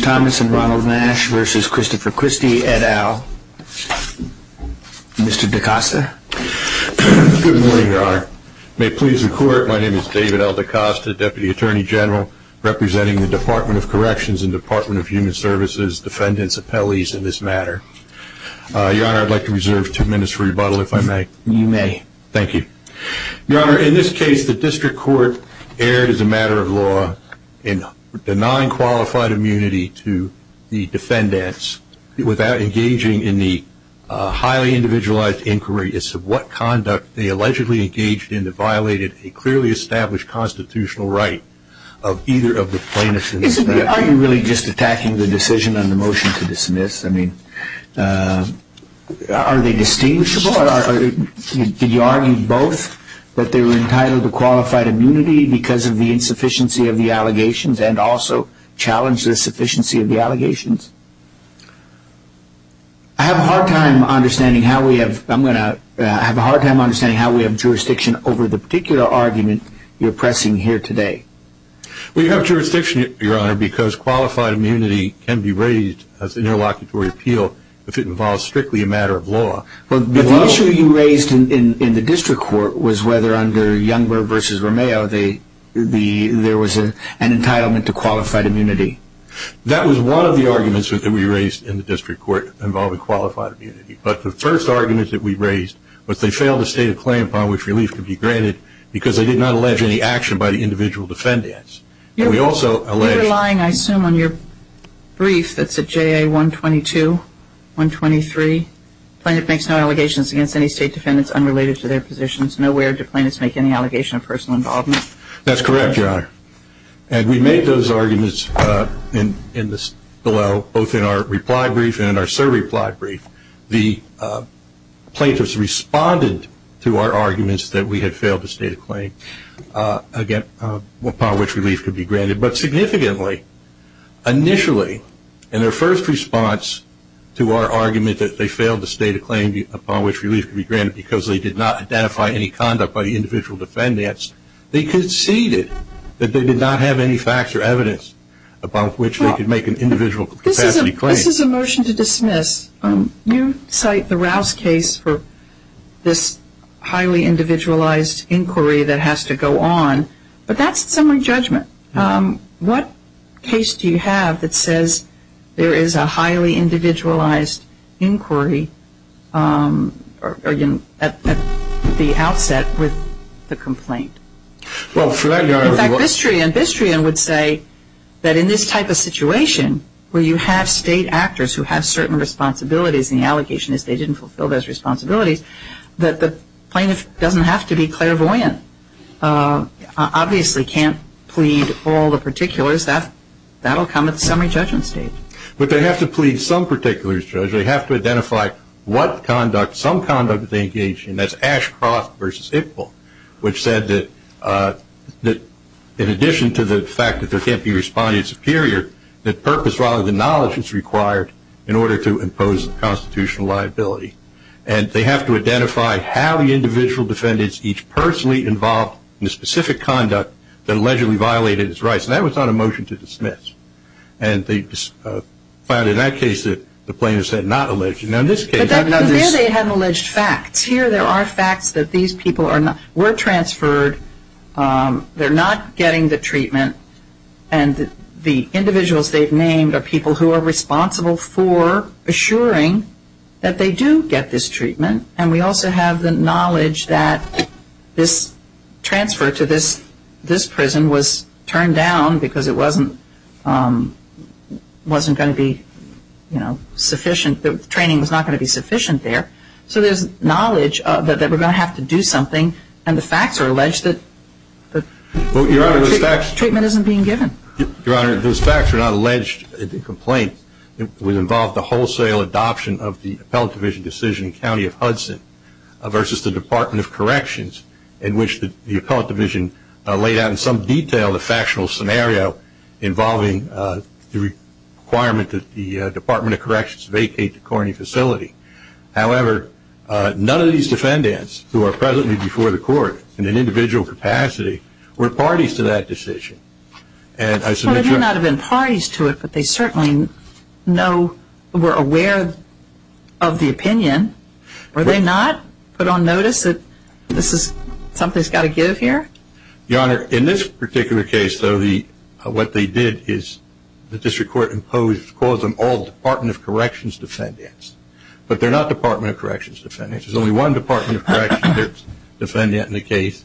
Thomas and Ronald Nash v. Christopher Christie et al. Mr. DaCosta. Good morning, Your Honor. May it please the Court, my name is David L. DaCosta, Deputy Attorney General, representing the Department of Corrections and Department of Human Services Defendant's Appellees in this matter. Your Honor, I'd like to reserve two minutes for rebuttal, if I may. You may. Thank you. Your Honor, in this case, the District Court erred as a matter of law in denying qualified immunity to the defendants without engaging in the highly individualized inquiries of what conduct they allegedly engaged in that violated a clearly established constitutional right of either of the plaintiffs. Are you really just attacking the decision on the both, that they're entitled to qualified immunity because of the insufficiency of the allegations and also challenge the sufficiency of the allegations? I have a hard time understanding how we have, I'm going to, I have a hard time understanding how we have jurisdiction over the particular argument you're pressing here today. We have jurisdiction, Your Honor, because qualified immunity can be raised as an interlocutory appeal if it involves strictly a matter of law. And the District Court was whether under Youngberg v. Romeo there was an entitlement to qualified immunity. That was one of the arguments that we raised in the District Court involving qualified immunity. But the first argument that we raised was they failed to state a claim upon which relief could be granted because they did not allege any action by the individual defendants. And we also allege... You're relying, I assume, on your brief that's J.A. 122, 123. Plaintiff makes no allegations against any state defendants unrelated to their positions. Nowhere do plaintiffs make any allegation of personal involvement. That's correct, Your Honor. And we make those arguments in this below, both in our reply brief and our surreply brief. The plaintiffs responded to our arguments that we had failed to state a claim upon which relief could be granted. But significantly, initially, and they're first response to our argument that they failed to state a claim upon which relief could be granted because they did not identify any conduct by the individual defendants, they conceded that they did not have any facts or evidence upon which they could make an individual capacity claim. This is a motion to dismiss. You cite the Rouse case for this highly individualized inquiry that has to go on. But that's summary judgment. What case do you have that says there is a highly individualized inquiry at the outset with the complaint? In fact, Bistrian would say that in this type of situation where you have state actors who have certain responsibilities and the allegation is they didn't fulfill those responsibilities, that the plaintiff doesn't have to be clairvoyant, obviously can't plead all the particulars. That will come at the summary judgment stage. But they have to plead some particulars, Judge. They have to identify what conduct, some conduct they engaged in. That's Ashcroft v. Ippol, which said that in addition to the fact that there can't be a respondent superior, that purpose rather than knowledge is required in order to impose a constitutional liability. And they have to identify how the individual defendants each personally involved in the specific conduct that allegedly violated its rights. And that was not a motion to dismiss. And they found in that case that the plaintiffs had not alleged. Now, in this case, they have alleged facts. Here there are facts that these people were transferred. They're not getting the treatment. And the individuals they've named are people who are responsible for assuring that they do get this treatment. And we also have the knowledge that this transfer to this prison was turned down because it wasn't going to be sufficient, the training was not going to be sufficient there. So there's knowledge that we're going to have to do something. And the facts are alleged that the treatment isn't being given. Your Honor, those facts are not alleged complaints. It would involve the wholesale adoption of the appellate division decision in the County of Hudson versus the Department of Corrections in which the appellate division laid out in some detail the factional scenario involving the requirement that the Department of Corrections vacate the Corny facility. However, none of these defendants who are presently before the court in an individual capacity were parties to that decision. And I submit you're not have been parties to it, but they certainly know, were aware of the opinion. Were they not put on notice that this is something's got to give here? Your Honor, in this particular case, though, the what they did is the district court imposed cause them all Department of Corrections defendants, but they're not Department of Corrections defendants. There's only one Department of Corrections defendant in the case.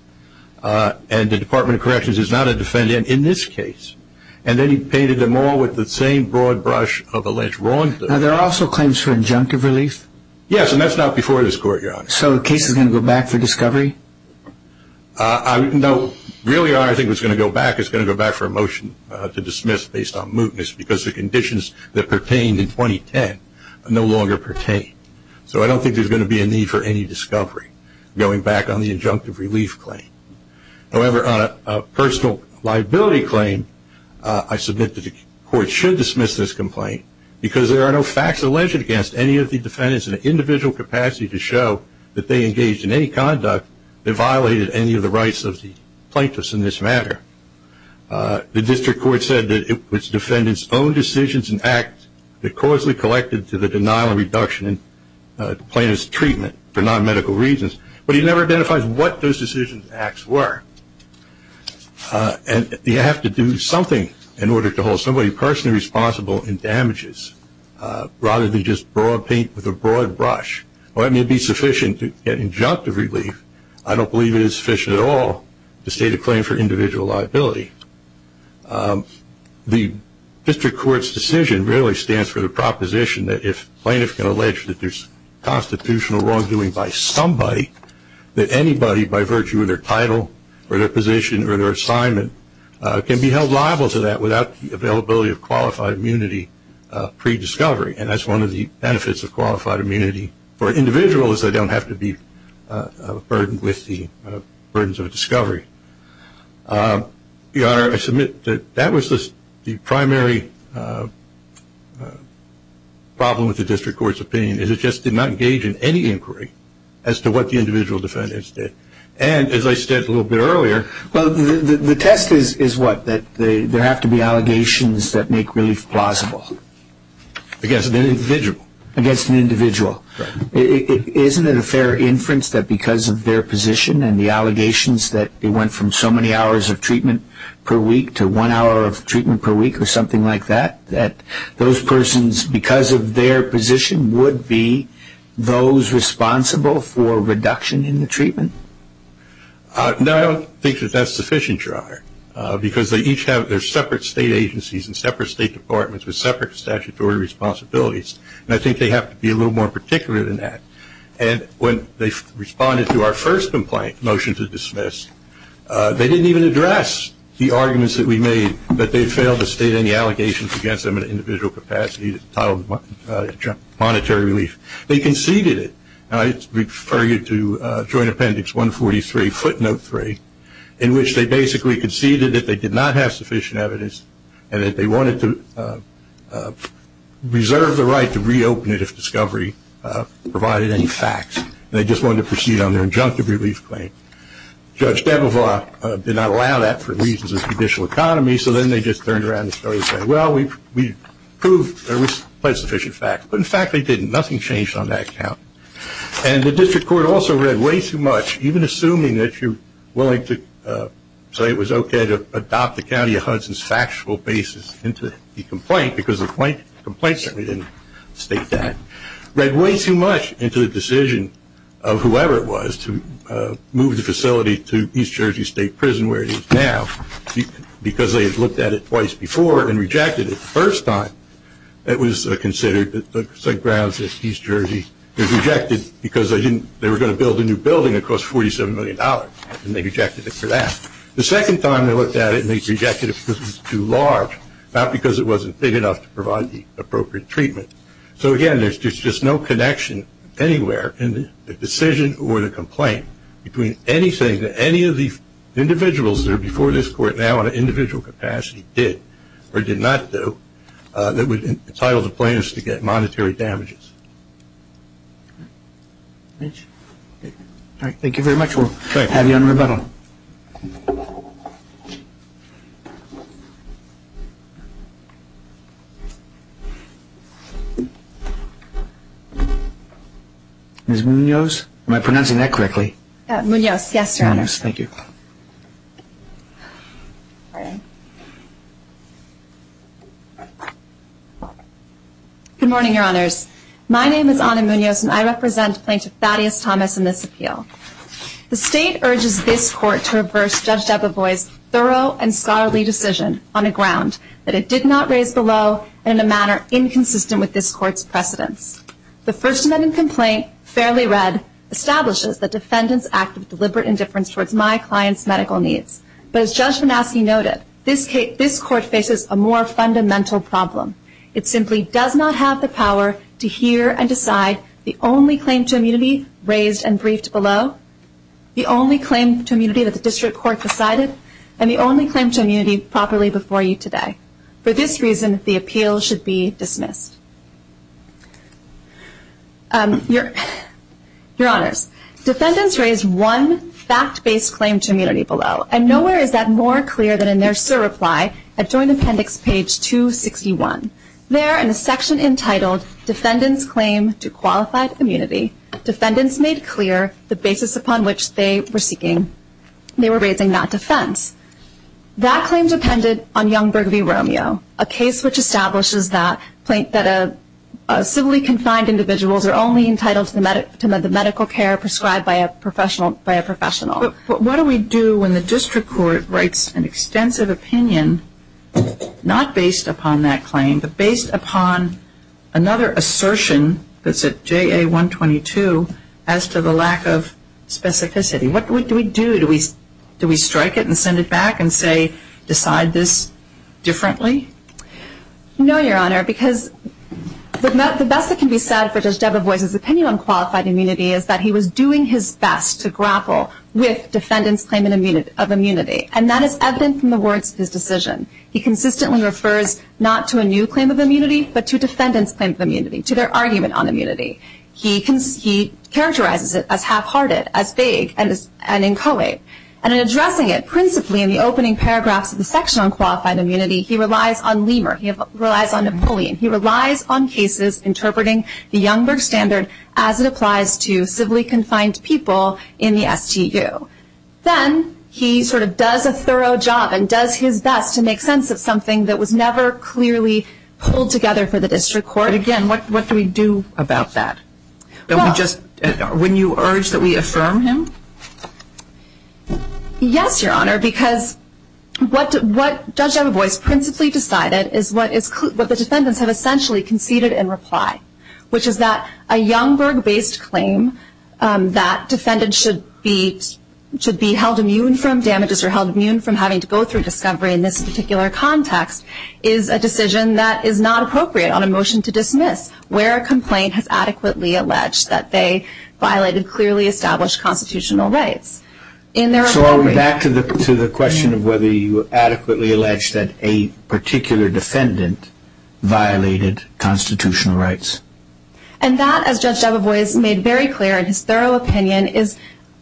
And the Department of Corrections is not a defendant in this case. And then he painted them all with the same broad brush of alleged wrongdoing. Now, there are also claims for injunctive relief? Yes, and that's not before this court, Your Honor. So the case is going to go back for discovery? No, really, Your Honor, I think it's going to go back. It's going to go back for a motion to dismiss based on mootness because the conditions that pertained in 2010 no longer pertain. So I don't think there's going to be a need for any discovery going back on the injunctive relief claim. However, on a personal liability claim, I submit that the court should dismiss this complaint because there are no facts alleged against any of the defendants in an individual capacity to show that they engaged in any conduct that violated any of the rights of the plaintiffs in this matter. The district court said that it was defendants' own decisions and acts that causally collected to the denial and reduction in plaintiff's treatment for non-medical reasons, but he never identifies what those decisions and acts were. And you have to do something in order to hold somebody personally responsible in damages rather than just broad paint with a broad brush. While that may be sufficient to get injunctive relief, I don't believe it is sufficient at all to state a claim for individual liability. The district court's decision really stands for the proposition that if plaintiffs can allege that there's constitutional wrongdoing by somebody, that anybody by virtue of their title or their position or their assignment can be held liable to that without the availability of qualified immunity pre-discovery. And that's one of the benefits of qualified immunity for individuals. They don't have to be burdened with the burdens of discovery. Your Honor, I submit that that was the primary problem with the district court's opinion, is it just did not engage in any inquiry as to what the individual defendants did. And as I said a little bit earlier... Well, the test is what? That there have to be allegations that make relief plausible. Against an individual? Against an individual. Isn't it a fair inference that because of their position and the allegations that they went from so many hours of treatment per week to one hour of treatment per week or something like that, that those persons, because of their position, would be those responsible for reduction in the treatment? No, I don't think that that's sufficient, Your Honor, because they each have their separate state agencies and separate state departments with separate statutory responsibilities. And I think they have to be a little more particular than that. And when they responded to our first complaint, motion to dismiss, they didn't even address the arguments that we made that they failed to state any allegations against them in an individual capacity titled monetary relief. They conceded it. And I refer you to Joint Appendix 143, footnote 3, in which they basically conceded that they did not have sufficient evidence and that they wanted to reserve the right to reopen it if discovery provided any facts. They just wanted to proceed on their injunctive relief claim. Judge Debovaugh did not allow that for reasons of judicial economy, so then they just turned around and started saying, well, we proved there was quite sufficient facts. But in fact, they didn't. Nothing changed on that account. And the district court also read way too much, even assuming that you're willing to say it was okay to adopt the County of Hudson's factual basis into the complaint, because the complaint certainly didn't state that, read way too much into the decision of whoever it was to move the facility to East Jersey State Prison, where it is now, because they had looked at it twice before and rejected it the first time. It was considered that the grounds at they were going to build a new building that cost $47 million, and they rejected it for that. The second time they looked at it and they rejected it because it was too large, not because it wasn't big enough to provide the appropriate treatment. So again, there's just no connection anywhere in the decision or the complaint between anything that any of the individuals that are before this court now in an individual capacity did or did not do that would entitle the plaintiffs to get monetary damages. All right. Thank you very much. We'll have you on rebuttal. Ms. Munoz? Am I pronouncing that correctly? Munoz. Yes, Your Honor. Munoz. Thank you. Good morning, Your Honors. My name is Ana Munoz, and I represent Plaintiff Thaddeus Thomas in this appeal. The State urges this Court to reverse Judge Dababoy's thorough and scholarly decision on a ground that it did not raise below and in a manner inconsistent with this Court's precedents. The First Amendment complaint, fairly read, establishes the defendant's act of deliberate indifference towards my client's medical needs. But as Judge Manaske noted, this Court faces a more fundamental problem. It simply does not have the power to hear and decide the only claim to immunity raised and briefed below, the only claim to immunity that the District Court decided, and the only claim to immunity properly before you today. For this reason, the appeal should be dismissed. Your Honors, defendants raised one fact-based claim to immunity below, and nowhere is that more clear than in their SIR reply at Joint Appendix, page 261. There, in a section entitled Defendants' Claim to Qualified Immunity, defendants made clear the basis upon which they were seeking, they were raising that defense. That claim depended on Young-Bergevi Romeo, a case which establishes that civilly confined individuals are only entitled to medical care prescribed by a professional. What do we do when the District Court writes an extensive opinion, not based upon that claim, but based upon another assertion that's at JA 122, as to the lack of specificity? What do we do? Do we strike it and send it back and say, decide this differently? No, Your Honor, because the best that can be said for Judge Debevoise's opinion on qualified immunity is that he was doing his best to grapple with defendants' claim of immunity, and that is evident from the words of his decision. He consistently refers not to a new claim of immunity, but to defendants' claim of immunity, to their argument on immunity. He characterizes it as half-hearted, as vague, and as inchoate. And in addressing it, principally in the opening paragraphs of the section on qualified immunity, he relies on Lemur, he relies on Napoleon, he relies on cases interpreting the Young-Bergev standard as it applies to civilly confined people in the STU. Then he sort of does a thorough job and does his best to make sense of something that was never clearly pulled together for the district court. But again, what do we do about that? Don't we just, wouldn't you urge that we affirm him? Yes, Your Honor, because what Judge Debevoise principally decided is what the defendants have essentially conceded in reply, which is that a Young-Berge based claim that defendants should be held immune from damages or held immune from having to go through discovery in this particular context is a decision that is not appropriate on a motion to dismiss where a complaint has adequately alleged that they violated clearly established constitutional rights. So I'll go back to the question of whether you adequately alleged that a particular defendant violated constitutional rights. And that, as Judge Debevoise made very clear in his thorough opinion, is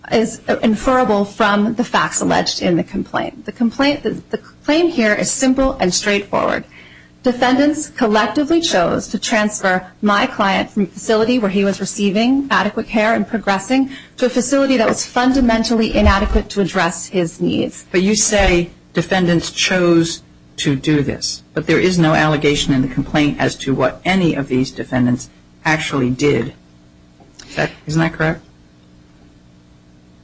inferable from the facts alleged in the complaint. The complaint here is simple and straightforward. Defendants collectively chose to transfer my client from a facility where he was receiving adequate care and progressing to a facility that was fundamentally inadequate to address his needs. But you say defendants chose to do this, but there is no allegation in the complaint as to what any of these defendants actually did. Isn't that correct?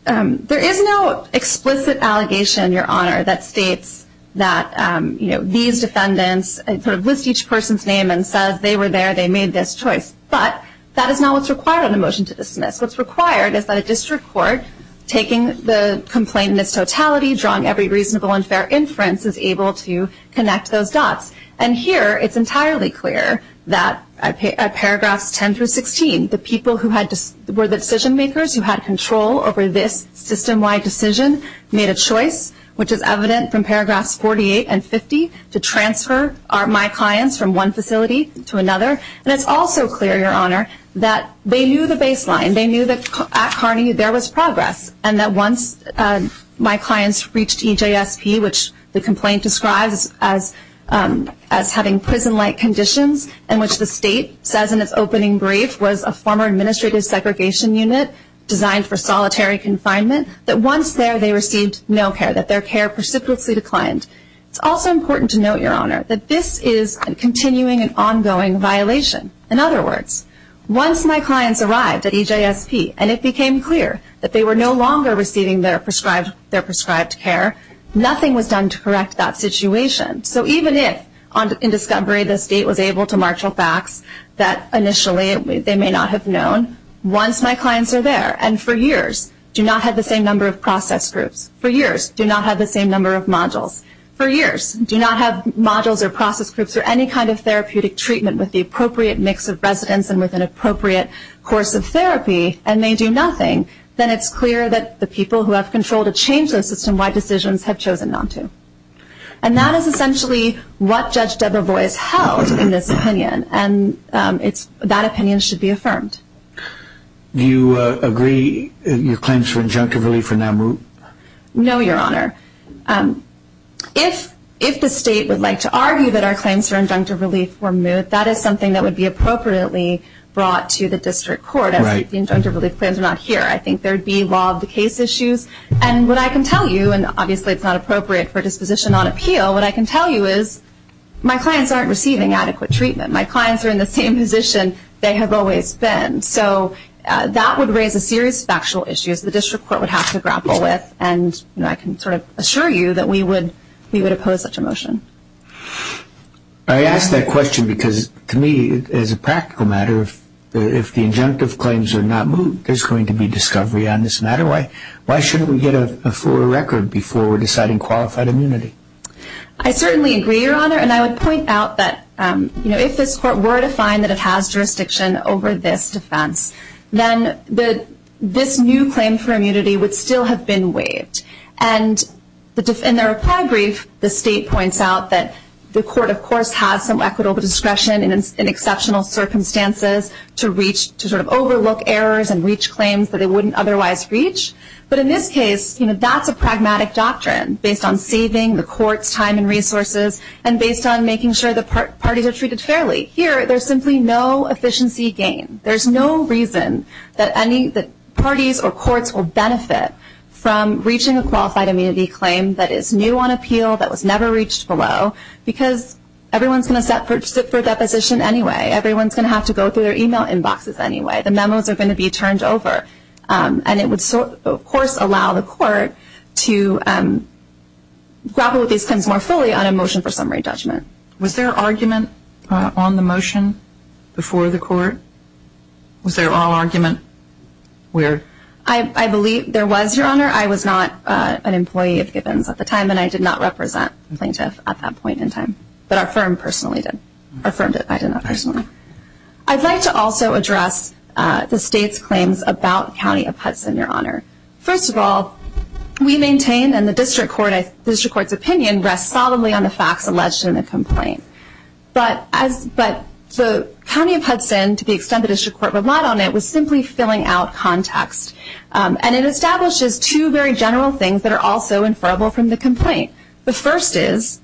There is no explicit allegation, Your Honor, that states that these defendants list each person's name and says they were there, they made this choice. But that is not what's required on a motion to dismiss. What's required is that a district court, taking the complaint in its totality, drawing every reasonable and fair inference, is able to connect those dots. And here, it's entirely clear that at paragraphs 10 through 16, the people who were the decision makers, who had control over this system-wide decision, made a choice, which is evident from paragraphs 48 and 50, to transfer my clients from one facility to another. And it's also clear, Your Honor, that they knew the baseline. They knew that at Kearney, there was progress, and that once my clients reached EJSP, which the complaint describes as having prison-like conditions, in which the state says in its opening brief was a former administrative segregation unit designed for solitary confinement, that once there, they received no care, that their care precipitously declined. It's also important to note, Your Honor, that this is a continuing and ongoing violation. In other words, once my clients arrived at EJSP, and it became clear that they were no longer receiving their prescribed care, nothing was done to correct that situation. So even if, in discovery, the state was able to marshal facts that initially they may not have known, once my clients are there, and for years do not have the same number of process groups, for years do not have the same number of modules, for years do not have modules or process groups or any kind of therapeutic treatment with the appropriate mix of residents and with an appropriate course of therapy, and they do nothing, then it's clear that the people who have control to change the system-wide decisions have chosen not to. And that is essentially what Judge Debra Boyce held in this opinion, and that opinion should be affirmed. Do you agree your claims for injunctive relief are now moot? No, Your Honor. If the state would like to argue that our claims for injunctive relief were moot, that is something that would be appropriately brought to the district court, as the injunctive relief plans are not here. I think there would be law of the case issues, and what I can tell you, and obviously it's not appropriate for disposition on appeal, what I can tell you is my clients aren't receiving adequate treatment. My clients are in the same position they have always been. So that would raise a series of factual issues the district court would have to grapple with, and I can sort of assure you that we would oppose such a motion. I ask that question because to me, as a practical matter, if the injunctive claims are not moot, there's going to be discovery on this matter. Why shouldn't we get a fuller record before deciding qualified immunity? I certainly agree, Your Honor, and I would point out that if this court were to find that it has jurisdiction over this defense, then this new claim for immunity would still have been waived. In the reply brief, the state points out that the court, of course, has some equitable discretion in exceptional circumstances to sort of overlook errors and reach claims that it wouldn't otherwise reach, but in this case, that's a pragmatic doctrine based on saving the court's time and resources and based on making sure the parties are treated fairly. Here, there's simply no efficiency gain. There's no reason that parties or courts will benefit from reaching a qualified immunity claim that is new on appeal, that was never reached below, because everyone's going to sit for deposition anyway. Everyone's going to have to go through their email inboxes anyway. The memos are going to be turned over, and it would, of course, allow the court to grapple with these things more fully on a motion for summary judgment. Was there argument on the motion before the court? Was there all argument? I believe there was, Your Honor. I was not an employee of Gibbons at the time, and I did not represent plaintiff at that point in time, but our firm personally did. Our firm did, I did not personally. I'd like to also address the State's claims about County of Hudson, Your Honor. First of all, we maintain, and the district court's opinion rests solidly on the facts alleged in the complaint, but the County of Hudson, to the extent the district court relied on it, was simply filling out context, and it establishes two very general things that are also inferrable from the complaint. The first is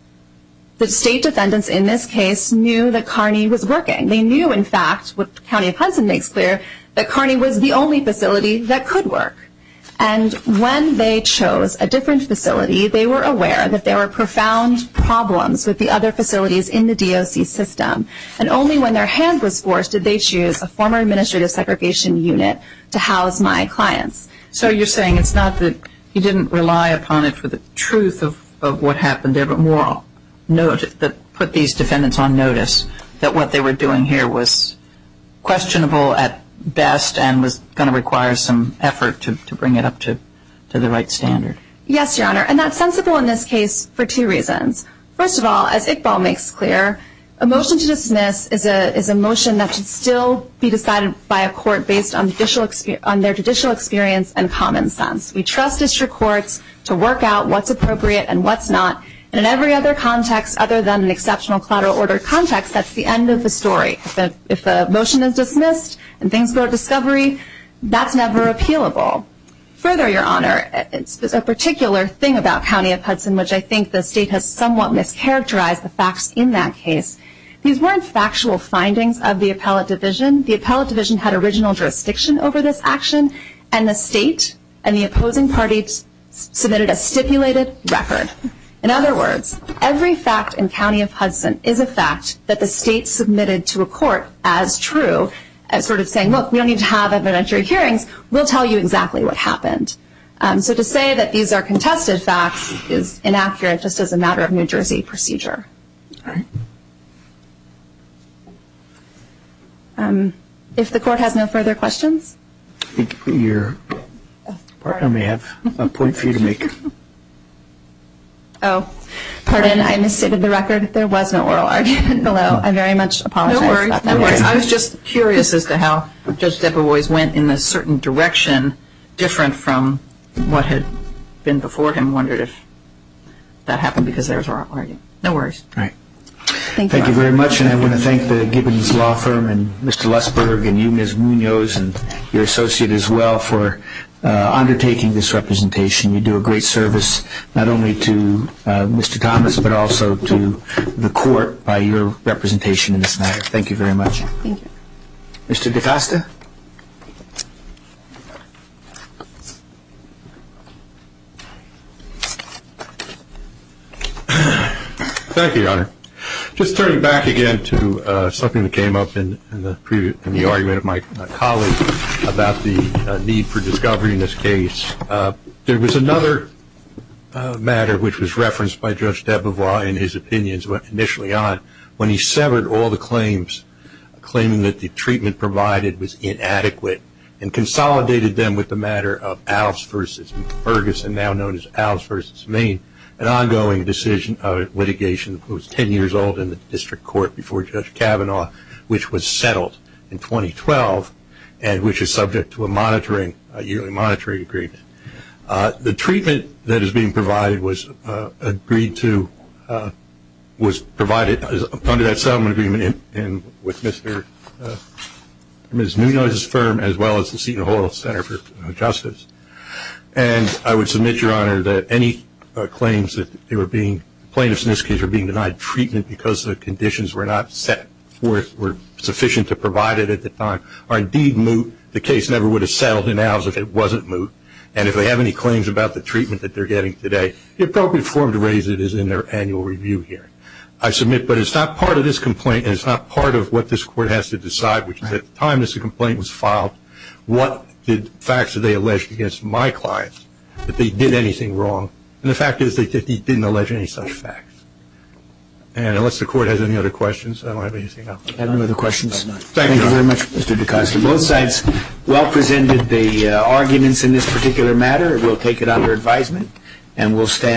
that State defendants in this case knew that Kearney was working. They knew, in fact, what County of Hudson makes clear, that Kearney was the only facility that could work, and when they chose a different facility, they were aware that there were profound problems with the other facilities in the DOC system, and only when their hand was forced did they choose a former administrative segregation unit to house my clients. So you're saying it's not that you didn't rely upon it for the truth of what happened there, but more that put these defendants on notice that what they were doing here was questionable at best and was going to require some effort to bring it up to the right standard. Yes, Your Honor, and that's sensible in this case for two reasons. First of all, as Iqbal makes clear, a motion to dismiss is a motion that should still be decided by a court based on their judicial experience and common sense. We trust district courts to work out what's appropriate and what's not, and in every other context other than an exceptional collateral order context, that's the end of the story. If a motion is dismissed and things go to discovery, that's never appealable. Further, Your Honor, a particular thing about County of Hudson, which I think the State has somewhat mischaracterized the facts in that case, these weren't factual findings of the appellate division. The appellate division had original jurisdiction over this action, and the State and the opposing parties submitted a stipulated record. In other words, every fact in County of Hudson is a fact that the State submitted to a court as true, as sort of saying, look, we don't need to have evidentiary hearings. We'll tell you exactly what happened. So to say that these are contested facts is inaccurate just as a matter of New Jersey procedure. All right. If the court has no further questions? Your partner may have a point for you to make. Oh, pardon. I misstated the record. There was no oral argument below. I very much apologize. No worries. I was just curious as to how Judge Debovoise went in a certain direction, different from what had been before him. I wondered if that happened because there was oral argument. No worries. Thank you very much, and I want to thank the Gibbons Law Firm and Mr. Lussberg and you, Ms. Munoz, and your associate as well for undertaking this representation. You do a great service not only to Mr. Thomas, but also to the court by your representation in this matter. Thank you very much. Thank you. Mr. DeCosta. Thank you, Your Honor. Just turning back again to something that came up in the argument of my colleague about the need for discovery in this case, there was another matter which was referenced by Judge Debovoise in his opinions initially on when he severed all the claims claiming that the treatment provided was inadequate and consolidated them with the matter of Alves v. Ferguson, now known as Alves v. Maine, an ongoing decision of litigation that was 10 years old in the district court before Judge Kavanaugh, which was settled in 2012 and which is subject to a monitoring, a yearly monitoring agreement. The treatment that is being provided was agreed to, was provided under that settlement agreement with Ms. Munoz's firm as well as the Seton Hall Center for Justice. And I would submit, Your Honor, that any claims that they were being, plaintiffs in this case, were being denied treatment because the conditions were not set forth, were sufficient to provide it at the time, are indeed moot. The case never would have settled in Alves if it wasn't moot. And if they have any claims about the treatment that they're getting today, the appropriate form to raise it is in their annual review hearing. I submit, but it's not part of this complaint and it's not part of what this court has to decide, which is at the time this complaint was filed, what facts did they allege against my clients, that they did anything wrong, and the fact is they didn't allege any such facts. And unless the court has any other questions, I don't have anything else. I have no other questions. Thank you very much, Mr. D'Costa. Both sides well presented the arguments in this particular matter. We'll take it under advisement and we'll stand.